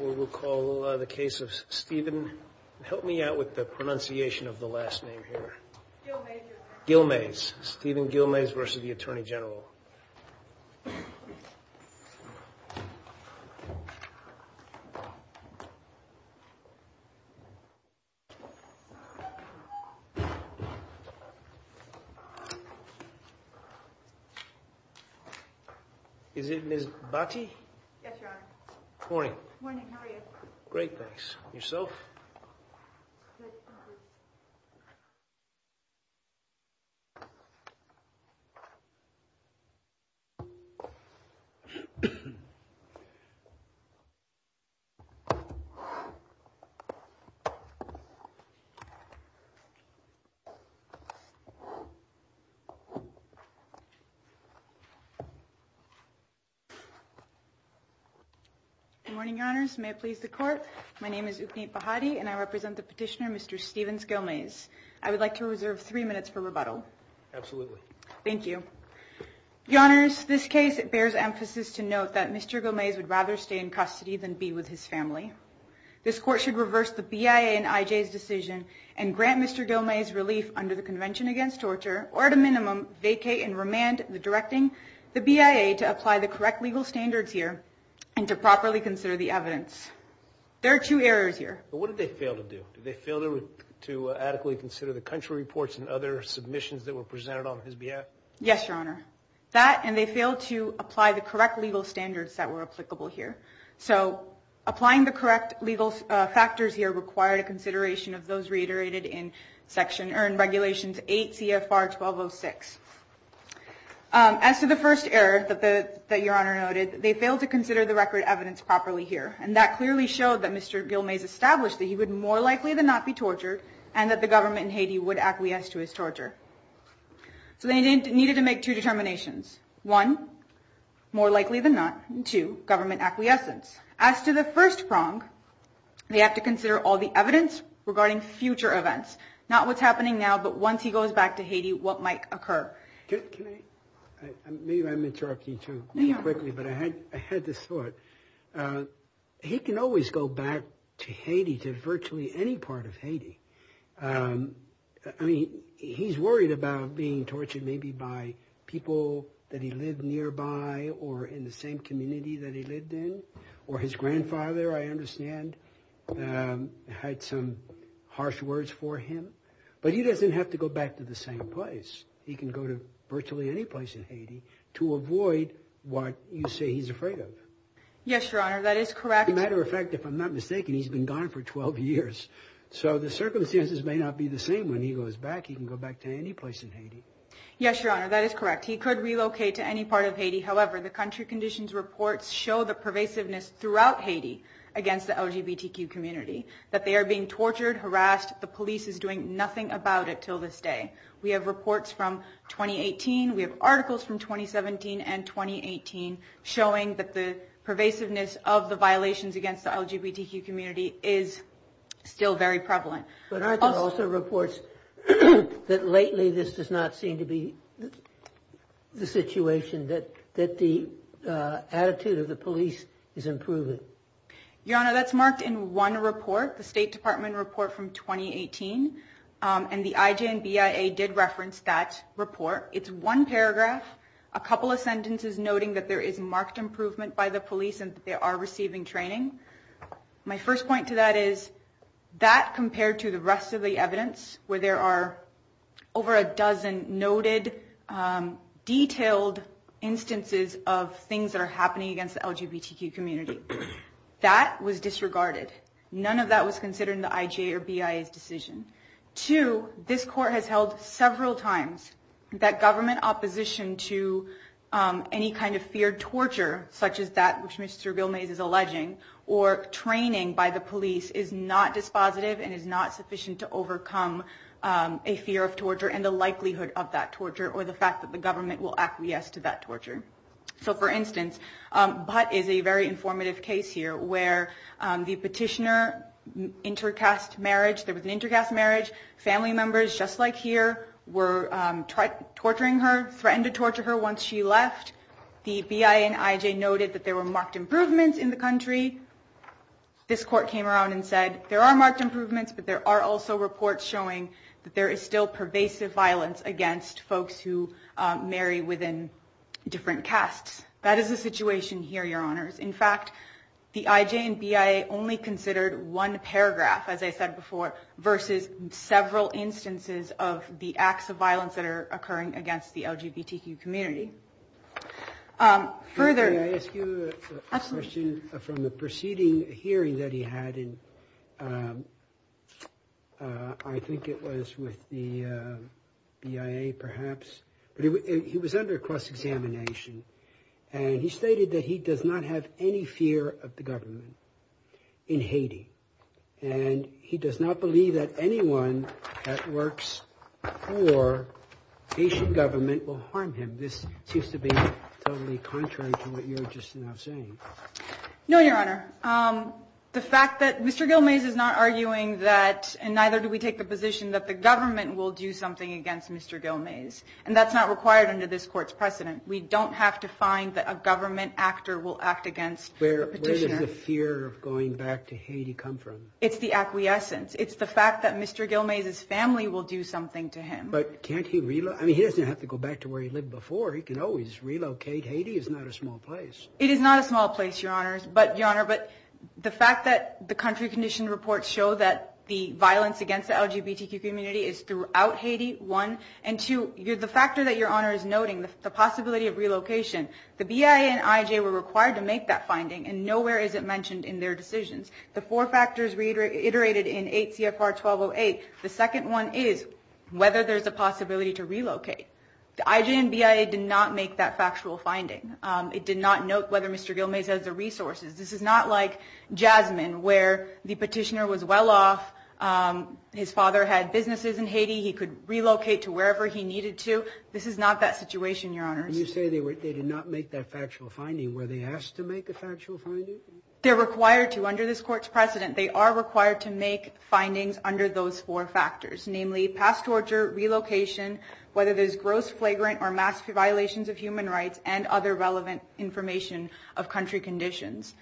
We will call the case of Stephen, help me out with the pronunciation of the last name here. Guilmeus. Guilmeus, Stephen Guilmeus v. Attorney General. Is it Ms. Batty? Yes, Your Honor. Morning. Morning, how are you? Great, thanks. Yourself? Good, thank you. Good morning, Your Honors, may it please the court. My name is Upneet Bahadi and I represent the petitioner, Mr. Stephens Guilmeus. I would like to reserve three minutes for rebuttal. Absolutely. Thank you. Your Honors, this case bears emphasis to note that Mr. Guilmeus would rather stay in custody than be with his family. This court should reverse the BIA and IJ's decision and grant Mr. Guilmeus relief under the Convention Against Torture or at a minimum vacate and remand the directing the BIA to apply the correct legal standards here and to properly consider the evidence. There are two errors here. What did they fail to do? Did they fail to adequately consider the country reports and other submissions that were presented on his behalf? Yes, Your Honor. That and they failed to apply the correct legal standards that were applicable here. So applying the correct legal factors here required a consideration of those reiterated in Regulations 8 CFR 1206. As to the first error that Your Honor noted, they failed to consider the record evidence properly here and that clearly showed that Mr. Guilmeus established that he would more likely than not be tortured and that the government in Haiti would acquiesce to his torture. So they needed to make two determinations. One, more likely than not. Two, government acquiescence. As to the first prong, they have to consider all the evidence regarding future events. Not what's happening now, but once he goes back to Haiti, what might occur. Can I? Maybe I'm interrupting you too quickly, but I had this thought. He can always go back to Haiti, to virtually any part of Haiti. I mean, he's worried about being tortured maybe by people that he lived nearby or in the same community that he lived in. Or his grandfather, I understand, had some harsh words for him. But he doesn't have to go back to the same place. He can go to virtually any place in Haiti to avoid what you say he's afraid of. Yes, Your Honor, that is correct. As a matter of fact, if I'm not mistaken, he's been gone for 12 years. So the circumstances may not be the same when he goes back. He can go back to any place in Haiti. Yes, Your Honor, that is correct. He could relocate to any part of Haiti. However, the country conditions reports show the pervasiveness throughout Haiti against the LGBTQ community, that they are being tortured, harassed. The police is doing nothing about it till this day. We have reports from 2018. We have articles from 2017 and 2018 showing that the pervasiveness of the violations against the LGBTQ community is still very prevalent. But aren't there also reports that lately this does not seem to be the situation, that the attitude of the police is improving? Your Honor, that's marked in one report, the State Department report from 2018. And the IJ and BIA did reference that report. It's one paragraph, a couple of sentences, noting that there is marked improvement by the police and that they are receiving training. My first point to that is that compared to the rest of the evidence, where there are over a dozen noted, detailed instances of things that are happening against the LGBTQ community, that was disregarded. None of that was considered in the IJ or BIA's decision. Two, this court has held several times that government opposition to any kind of feared torture, such as that which Mr. Gilmaze is alleging, or training by the police is not dispositive and is not sufficient to overcome a fear of torture and the likelihood of that torture or the fact that the government will acquiesce to that torture. So, for instance, Butt is a very informative case here where the petitioner intercast marriage, there was an intercast marriage, family members, just like here, were torturing her, threatened to torture her once she left. The BIA and IJ noted that there were marked improvements in the country. This court came around and said there are marked improvements, but there are also reports showing that there is still pervasive violence against folks who marry within different castes. That is the situation here, Your Honors. In fact, the IJ and BIA only considered one paragraph, as I said before, versus several instances of the acts of violence that are occurring against the LGBTQ community. Further... May I ask you a question from the preceding hearing that he had? He was under cross-examination, and he stated that he does not have any fear of the government in Haiti, and he does not believe that anyone that works for Haitian government will harm him. This seems to be totally contrary to what you were just now saying. No, Your Honor. The fact that Mr. Gilmaze is not arguing that, and neither do we take the position, that the government will do something against Mr. Gilmaze, and that's not required under this court's precedent. We don't have to find that a government actor will act against a petitioner. Where does the fear of going back to Haiti come from? It's the acquiescence. It's the fact that Mr. Gilmaze's family will do something to him. But can't he relocate? I mean, he doesn't have to go back to where he lived before. He can always relocate. Haiti is not a small place. It is not a small place, Your Honor, but the fact that the country condition reports show that the violence against the LGBTQ community is throughout Haiti, one, and two, the factor that Your Honor is noting, the possibility of relocation, the BIA and IJ were required to make that finding, and nowhere is it mentioned in their decisions. The four factors reiterated in 8 CFR 1208. The second one is whether there's a possibility to relocate. The IJ and BIA did not make that factual finding. It did not note whether Mr. Gilmaze has the resources. This is not like Jasmine, where the petitioner was well off. His father had businesses in Haiti. He could relocate to wherever he needed to. This is not that situation, Your Honor. You say they did not make that factual finding. Were they asked to make a factual finding? They're required to. Under this Court's precedent, they are required to make findings under those four factors, namely past torture, relocation, whether there's gross flagrant or massive violations of human rights, and other relevant information of country conditions.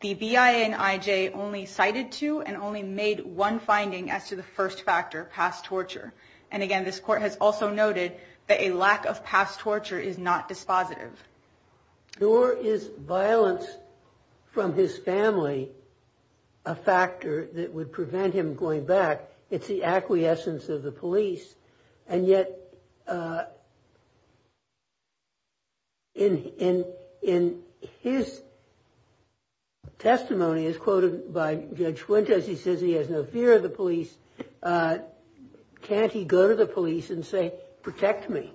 The BIA and IJ only cited two and only made one finding as to the first factor, past torture. And again, this Court has also noted that a lack of past torture is not dispositive. Nor is violence from his family a factor that would prevent him going back. It's the acquiescence of the police. And yet, in his testimony, as quoted by Judge Fuentes, he says he has no fear of the police. Can't he go to the police and say, protect me?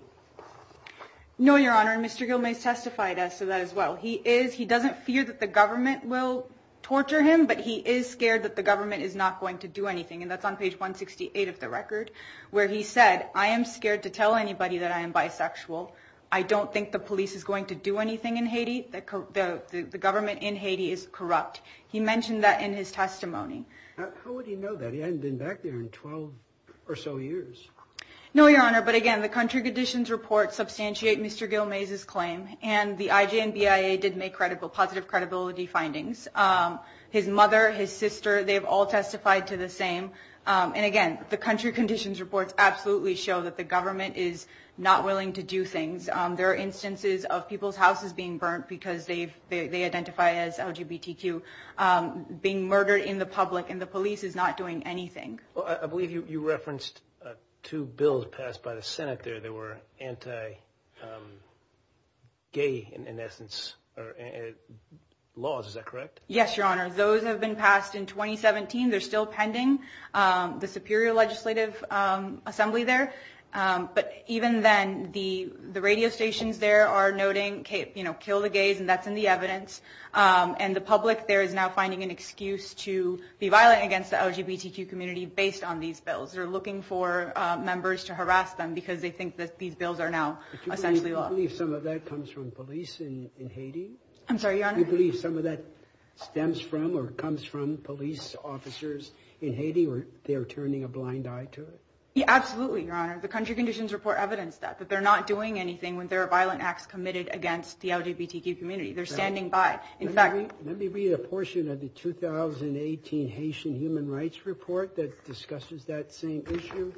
No, Your Honor, and Mr. Gilmaze testified to that as well. He doesn't fear that the government will torture him, but he is scared that the government is not going to do anything. And that's on page 168 of the record, where he said, I am scared to tell anybody that I am bisexual. I don't think the police is going to do anything in Haiti. The government in Haiti is corrupt. He mentioned that in his testimony. How would he know that? He hadn't been back there in 12 or so years. No, Your Honor, but again, the country conditions report substantiate Mr. Gilmaze's claim. And the IJ and BIA did make positive credibility findings. His mother, his sister, they've all testified to the same. And again, the country conditions reports absolutely show that the government is not willing to do things. There are instances of people's houses being burnt because they identify as LGBTQ. Being murdered in the public and the police is not doing anything. I believe you referenced two bills passed by the Senate there that were anti-gay in essence laws. Is that correct? Yes, Your Honor. Those have been passed in 2017. They're still pending the Superior Legislative Assembly there. But even then, the radio stations there are noting, you know, kill the gays and that's in the evidence. And the public there is now finding an excuse to be violent against the LGBTQ community based on these bills. They're looking for members to harass them because they think that these bills are now essentially law. Do you believe some of that comes from police in Haiti? I'm sorry, Your Honor? Do you believe some of that stems from or comes from police officers in Haiti or they are turning a blind eye to it? Yeah, absolutely, Your Honor. The country conditions report evidenced that. But they're not doing anything when there are violent acts committed against the LGBTQ community. They're standing by. Let me read a portion of the 2018 Haitian Human Rights Report that discusses that same issue.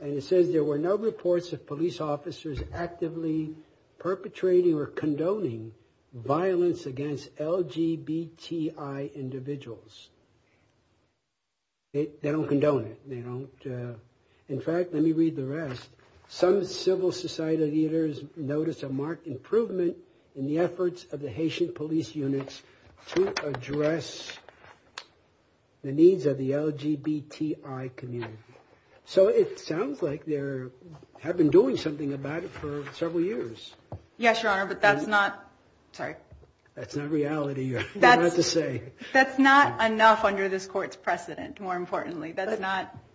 And it says there were no reports of police officers actively perpetrating or condoning violence against LGBTI individuals. They don't condone it. In fact, let me read the rest. Some civil society leaders noticed a marked improvement in the efforts of the Haitian police units to address the needs of the LGBTI community. So it sounds like they have been doing something about it for several years. Yes, Your Honor, but that's not, sorry. That's not reality, Your Honor. That's not enough under this court's precedent, more importantly.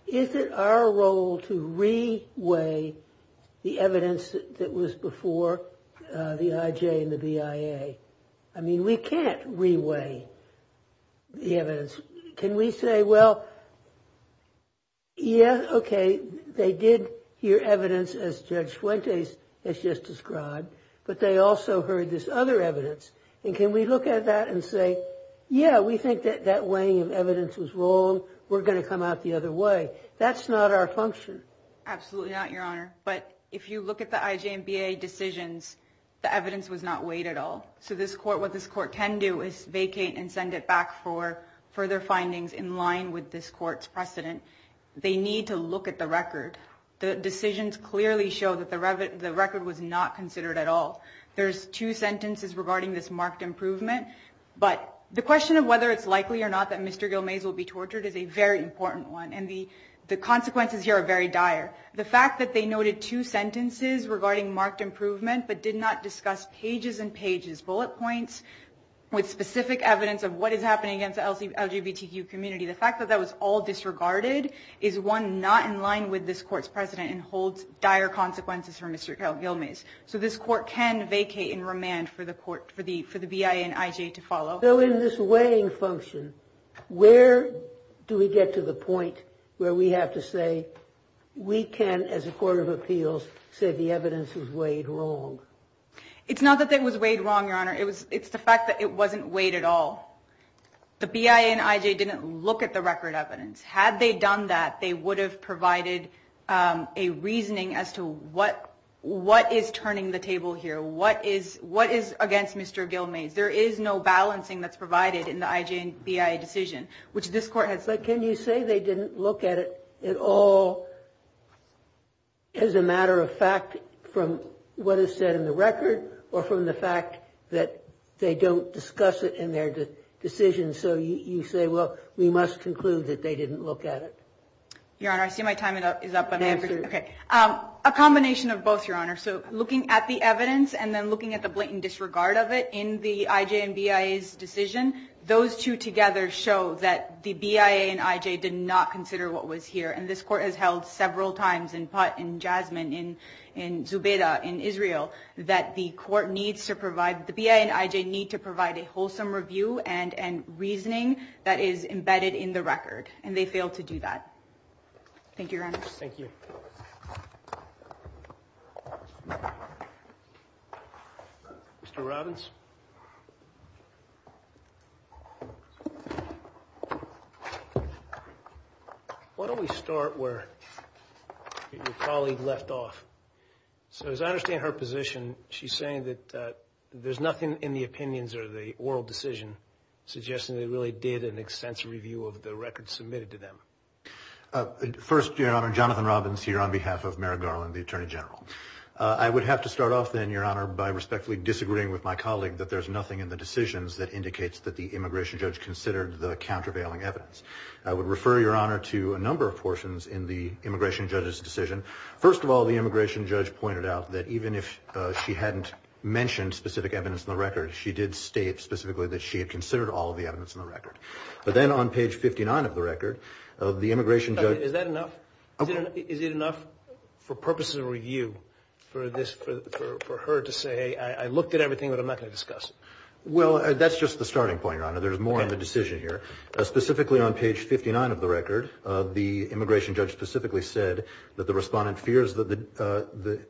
Is it our role to re-weigh the evidence that was before the IJ and the BIA? I mean, we can't re-weigh the evidence. Can we say, well, yeah, okay, they did hear evidence as Judge Fuentes has just described, but they also heard this other evidence. And can we look at that and say, yeah, we think that that weighing of evidence was wrong. So we're going to come out the other way. That's not our function. Absolutely not, Your Honor. But if you look at the IJ and BIA decisions, the evidence was not weighed at all. So what this court can do is vacate and send it back for further findings in line with this court's precedent. They need to look at the record. The decisions clearly show that the record was not considered at all. There's two sentences regarding this marked improvement. But the question of whether it's likely or not that Mr. Gilmaze will be tortured is a very important one. And the consequences here are very dire. The fact that they noted two sentences regarding marked improvement but did not discuss pages and pages, bullet points with specific evidence of what is happening against the LGBTQ community, the fact that that was all disregarded is one not in line with this court's precedent and holds dire consequences for Mr. Gilmaze. So this court can vacate and remand for the BIA and IJ to follow. So in this weighing function, where do we get to the point where we have to say we can, as a court of appeals, say the evidence was weighed wrong? It's not that it was weighed wrong, Your Honor. It's the fact that it wasn't weighed at all. The BIA and IJ didn't look at the record evidence. Had they done that, they would have provided a reasoning as to what is turning the table here. What is against Mr. Gilmaze? There is no balancing that's provided in the IJ and BIA decision, which this court has. But can you say they didn't look at it at all as a matter of fact from what is said in the record or from the fact that they don't discuss it in their decision? And so you say, well, we must conclude that they didn't look at it. Your Honor, I see my time is up. A combination of both, Your Honor. So looking at the evidence and then looking at the blatant disregard of it in the IJ and BIA's decision, those two together show that the BIA and IJ did not consider what was here. And this court has held several times in Putt, in Jasmine, in Zubeda, in Israel, that the BIA and IJ need to provide a wholesome review and reasoning that is embedded in the record. And they failed to do that. Thank you, Your Honor. Thank you. Mr. Robbins? Why don't we start where your colleague left off? So as I understand her position, she's saying that there's nothing in the opinions or the oral decision suggesting they really did an extensive review of the record submitted to them. First, Your Honor, Jonathan Robbins here on behalf of Mary Garland, the Attorney General. I would have to start off then, Your Honor, by respectfully disagreeing with my colleague that there's nothing in the decisions that indicates that the immigration judge considered the countervailing evidence. I would refer, Your Honor, to a number of portions in the immigration judge's decision. First of all, the immigration judge pointed out that even if she hadn't mentioned specific evidence in the record, she did state specifically that she had considered all of the evidence in the record. But then on page 59 of the record, the immigration judge- Is that enough? Is it enough for purposes of review for her to say, hey, I looked at everything, but I'm not going to discuss it? Well, that's just the starting point, Your Honor. There's more on the decision here. Specifically on page 59 of the record, the immigration judge specifically said that the respondent fears that the-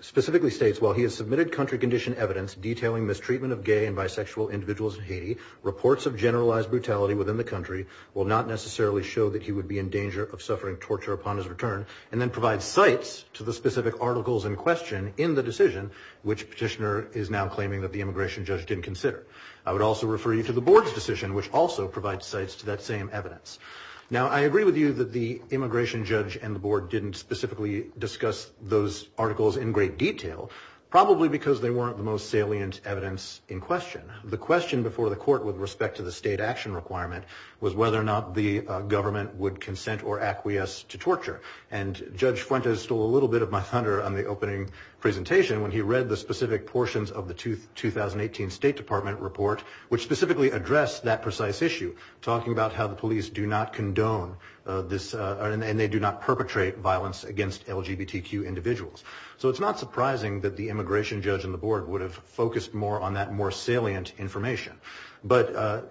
specifically states, while he has submitted country condition evidence detailing mistreatment of gay and bisexual individuals in Haiti, reports of generalized brutality within the country will not necessarily show that he would be in danger of suffering torture upon his return, and then provides cites to the specific articles in question in the decision, which petitioner is now claiming that the immigration judge didn't consider. I would also refer you to the board's decision, which also provides cites to that same evidence. Now, I agree with you that the immigration judge and the board didn't specifically discuss those articles in great detail, probably because they weren't the most salient evidence in question. The question before the court with respect to the state action requirement was whether or not the government would consent or acquiesce to torture. And Judge Fuentes stole a little bit of my thunder on the opening presentation when he read the specific portions of the 2018 State Department report, which specifically addressed that precise issue, talking about how the police do not condone this- and they do not perpetrate violence against LGBTQ individuals. So it's not surprising that the immigration judge and the board would have focused more on that more salient information. But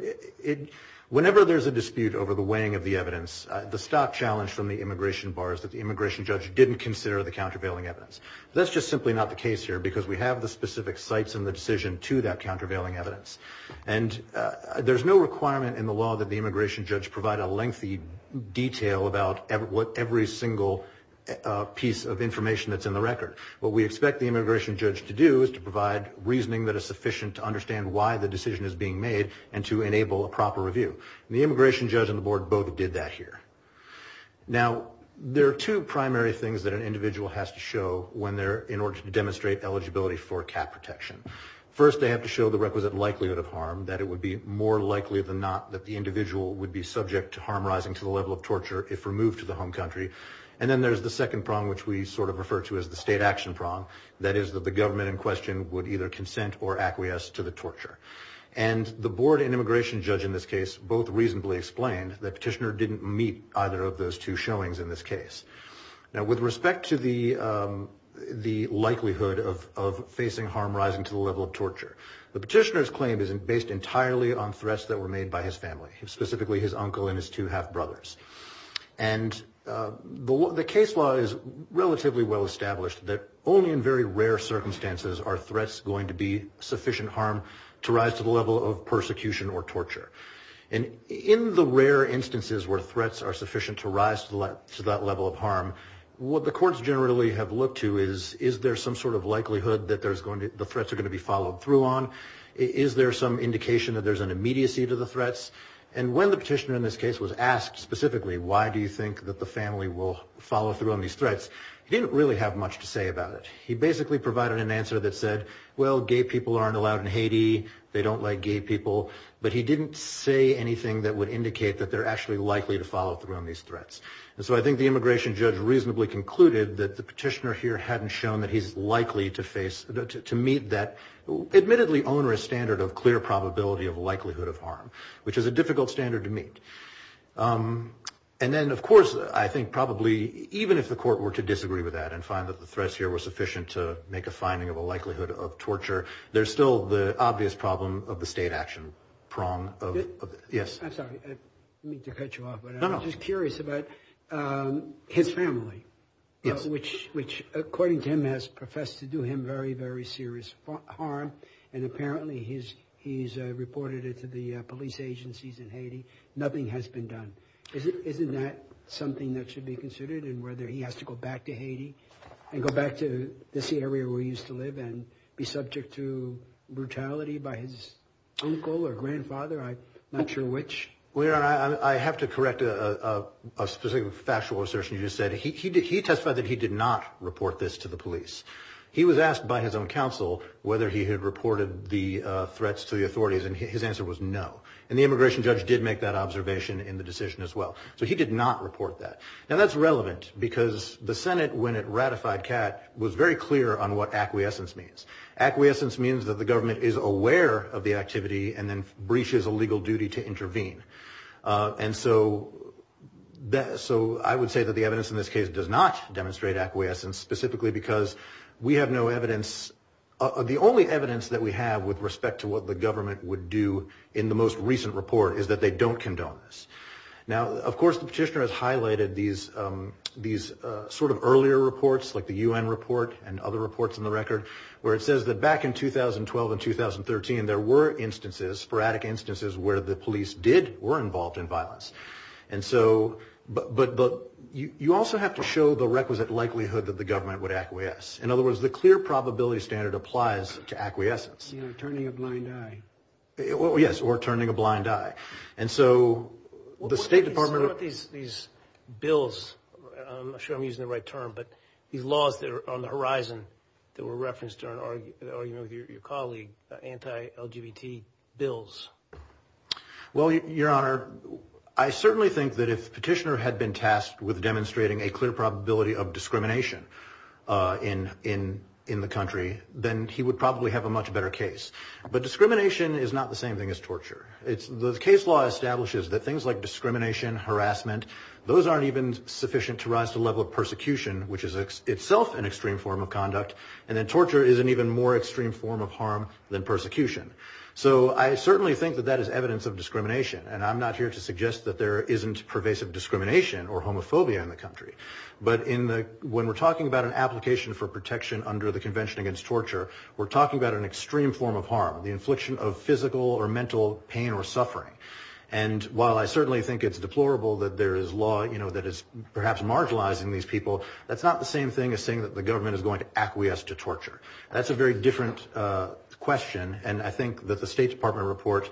whenever there's a dispute over the weighing of the evidence, the stock challenge from the immigration bar is that the immigration judge didn't consider the countervailing evidence. That's just simply not the case here, because we have the specific cites in the decision to that countervailing evidence. And there's no requirement in the law that the immigration judge provide a lengthy detail about every single piece of information that's in the record. What we expect the immigration judge to do is to provide reasoning that is sufficient to understand why the decision is being made and to enable a proper review. And the immigration judge and the board both did that here. Now, there are two primary things that an individual has to show in order to demonstrate eligibility for cap protection. First, they have to show the requisite likelihood of harm, that it would be more likely than not that the individual would be subject to harm rising to the level of torture if removed to the home country. And then there's the second prong, which we sort of refer to as the state action prong, that is that the government in question would either consent or acquiesce to the torture. And the board and immigration judge in this case both reasonably explained that Petitioner didn't meet either of those two showings in this case. Now, with respect to the likelihood of facing harm rising to the level of torture, the Petitioner's claim is based entirely on threats that were made by his family, specifically his uncle and his two half-brothers. And the case law is relatively well established that only in very rare circumstances are threats going to be sufficient harm to rise to the level of persecution or torture. And in the rare instances where threats are sufficient to rise to that level of harm, what the courts generally have looked to is, is there some sort of likelihood that the threats are going to be followed through on? Is there some indication that there's an immediacy to the threats? And when the Petitioner in this case was asked specifically, why do you think that the family will follow through on these threats, he didn't really have much to say about it. He basically provided an answer that said, well, gay people aren't allowed in Haiti. They don't like gay people. But he didn't say anything that would indicate that they're actually likely to follow through on these threats. And so I think the immigration judge reasonably concluded that the Petitioner here hadn't shown that he's likely to meet that admittedly onerous standard of clear probability of likelihood of harm, which is a difficult standard to meet. And then, of course, I think probably even if the court were to disagree with that and find that the threats here were sufficient to make a finding of a likelihood of torture, there's still the obvious problem of the state action prong. Yes. I'm sorry. I didn't mean to cut you off. No, no. I'm just curious about his family. Yes. Which, according to him, has professed to do him very, very serious harm, and apparently he's reported it to the police agencies in Haiti. Nothing has been done. Isn't that something that should be considered in whether he has to go back to Haiti and go back to this area where he used to live and be subject to brutality by his uncle or grandfather? I'm not sure which. Well, Your Honor, I have to correct a specific factual assertion you just said. He testified that he did not report this to the police. He was asked by his own counsel whether he had reported the threats to the authorities, and his answer was no. And the immigration judge did make that observation in the decision as well. So he did not report that. Now, that's relevant because the Senate, when it ratified Catt, was very clear on what acquiescence means. Acquiescence means that the government is aware of the activity and then breaches a legal duty to intervene. And so I would say that the evidence in this case does not demonstrate acquiescence, specifically because we have no evidence. The only evidence that we have with respect to what the government would do in the most recent report is that they don't condone this. Now, of course, the petitioner has highlighted these sort of earlier reports, like the U.N. report and other reports in the record, where it says that back in 2012 and 2013 there were instances, sporadic instances, where the police did or were involved in violence. But you also have to show the requisite likelihood that the government would acquiesce. In other words, the clear probability standard applies to acquiescence. You know, turning a blind eye. Yes, or turning a blind eye. And so the State Department... What do you think about these bills? I'm not sure I'm using the right term, but these laws that are on the horizon that were referenced during the argument with your colleague, anti-LGBT bills. Well, Your Honor, I certainly think that if the petitioner had been tasked with demonstrating a clear probability of discrimination in the country, then he would probably have a much better case. But discrimination is not the same thing as torture. The case law establishes that things like discrimination, harassment, those aren't even sufficient to rise to the level of persecution, which is itself an extreme form of conduct. And then torture is an even more extreme form of harm than persecution. So I certainly think that that is evidence of discrimination, and I'm not here to suggest that there isn't pervasive discrimination or homophobia in the country. But when we're talking about an application for protection under the Convention Against Torture, we're talking about an extreme form of harm, the infliction of physical or mental pain or suffering. And while I certainly think it's deplorable that there is law that is perhaps marginalizing these people, that's not the same thing as saying that the government is going to acquiesce to torture. That's a very different question, and I think that the State Department report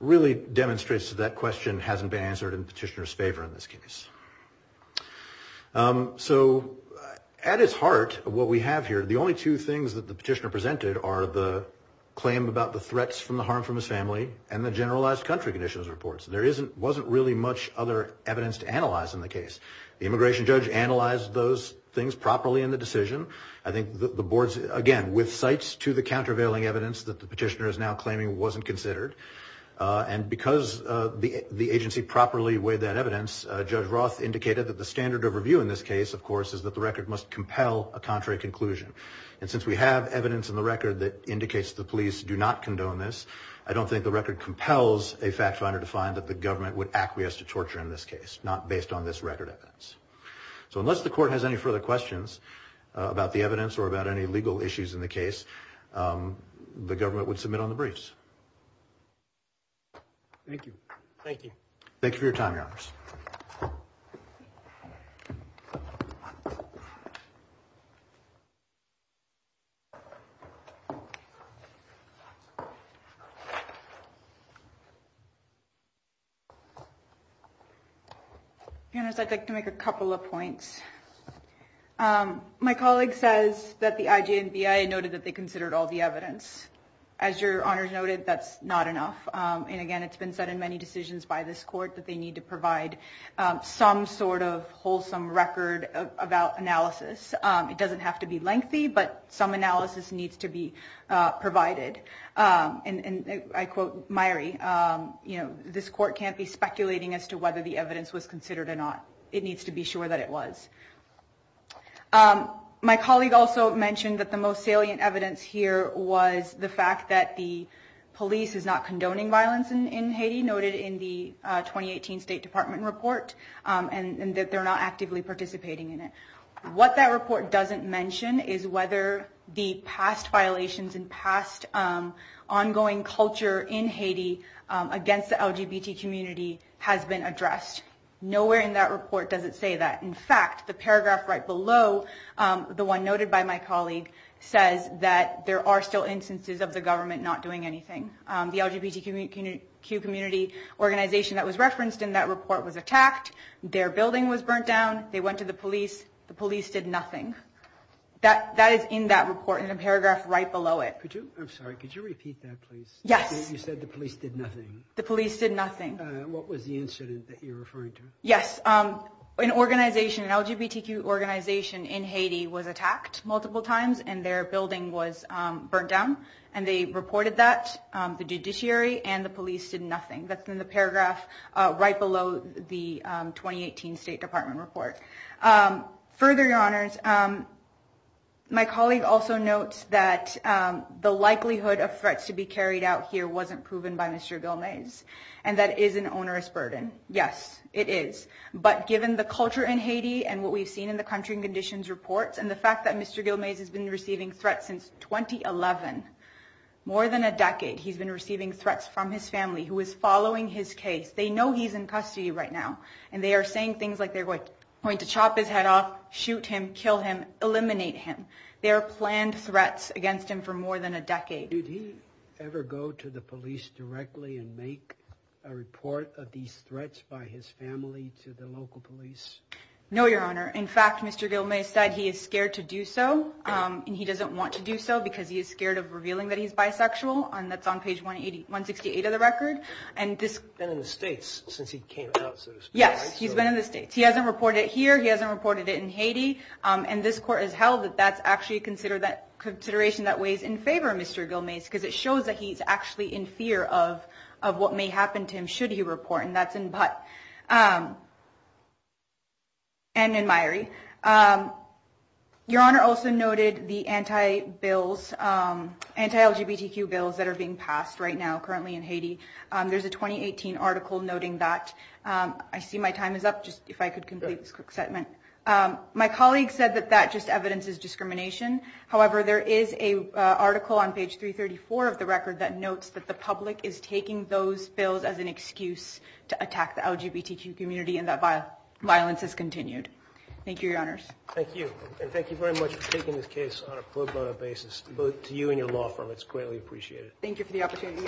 really demonstrates that that question hasn't been answered in the petitioner's favor in this case. So at its heart, what we have here, the only two things that the petitioner presented are the claim about the threats from the harm from his family and the generalized country conditions reports. There wasn't really much other evidence to analyze in the case. The immigration judge analyzed those things properly in the decision. I think the boards, again, with sites to the countervailing evidence that the petitioner is now claiming wasn't considered, and because the agency properly weighed that evidence, Judge Roth indicated that the standard of review in this case, of course, is that the record must compel a contrary conclusion. And since we have evidence in the record that indicates the police do not condone this, I don't think the record compels a fact finder to find that the government would acquiesce to torture in this case, not based on this record evidence. So unless the court has any further questions about the evidence or about any legal issues in the case, the government would submit on the briefs. Thank you. Thank you. Thank you for your time, Your Honors. Your Honors, I'd like to make a couple of points. My colleague says that the IJNBI noted that they considered all the evidence. As Your Honors noted, that's not enough. And again, it's been said in many decisions by this court that they need to provide some sort of wholesome record about analysis. It doesn't have to be lengthy, but some analysis needs to be provided. And I quote Myrie, you know, this court can't be speculating as to whether the evidence was considered or not. It needs to be sure that it was. My colleague also mentioned that the most salient evidence here was the fact that the police is not condoning violence in Haiti, noted in the 2018 State Department report, and that they're not actively participating in it. What that report doesn't mention is whether the past violations and past ongoing culture in Haiti against the LGBT community has been addressed. Nowhere in that report does it say that. In fact, the paragraph right below the one noted by my colleague says that there are still instances of the government not doing anything. The LGBTQ community organization that was referenced in that report was attacked. Their building was burnt down. They went to the police. The police did nothing. That is in that report in a paragraph right below it. I'm sorry. Could you repeat that, please? Yes. You said the police did nothing. The police did nothing. What was the incident that you're referring to? Yes. An organization, an LGBTQ organization in Haiti was attacked multiple times, and their building was burnt down. And they reported that. The judiciary and the police did nothing. That's in the paragraph right below the 2018 State Department report. Further, Your Honors, my colleague also notes that the likelihood of threats to be carried out here wasn't proven by Mr. Vilmaez, and that is an onerous burden. Yes, it is. But given the culture in Haiti and what we've seen in the country and conditions reports and the fact that Mr. Vilmaez has been receiving threats since 2011, more than a decade, he's been receiving threats from his family who is following his case. They know he's in custody right now, and they are saying things like they're going to chop his head off, shoot him, kill him, eliminate him. Did he ever go to the police directly and make a report of these threats by his family to the local police? No, Your Honor. In fact, Mr. Vilmaez said he is scared to do so, and he doesn't want to do so because he is scared of revealing that he's bisexual. That's on page 168 of the record. He's been in the States since he came out, so to speak, right? Yes, he's been in the States. He hasn't reported it here. He hasn't reported it in Haiti. And this court has held that that's actually a consideration that weighs in favor of Mr. Vilmaez because it shows that he's actually in fear of what may happen to him should he report, and that's in Butte and in Mairi. Your Honor also noted the anti-LGBTQ bills that are being passed right now currently in Haiti. There's a 2018 article noting that. I see my time is up. Just if I could complete this quick statement. My colleague said that that just evidences discrimination. However, there is an article on page 334 of the record that notes that the public is taking those bills as an excuse to attack the LGBTQ community and that violence has continued. Thank you, Your Honors. Thank you. And thank you very much for taking this case on a pro bono basis, both to you and your law firm. It's greatly appreciated. Thank you for the opportunity.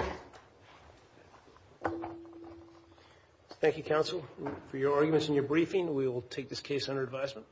Thank you, counsel, for your arguments and your briefing. We will take this case under advisement.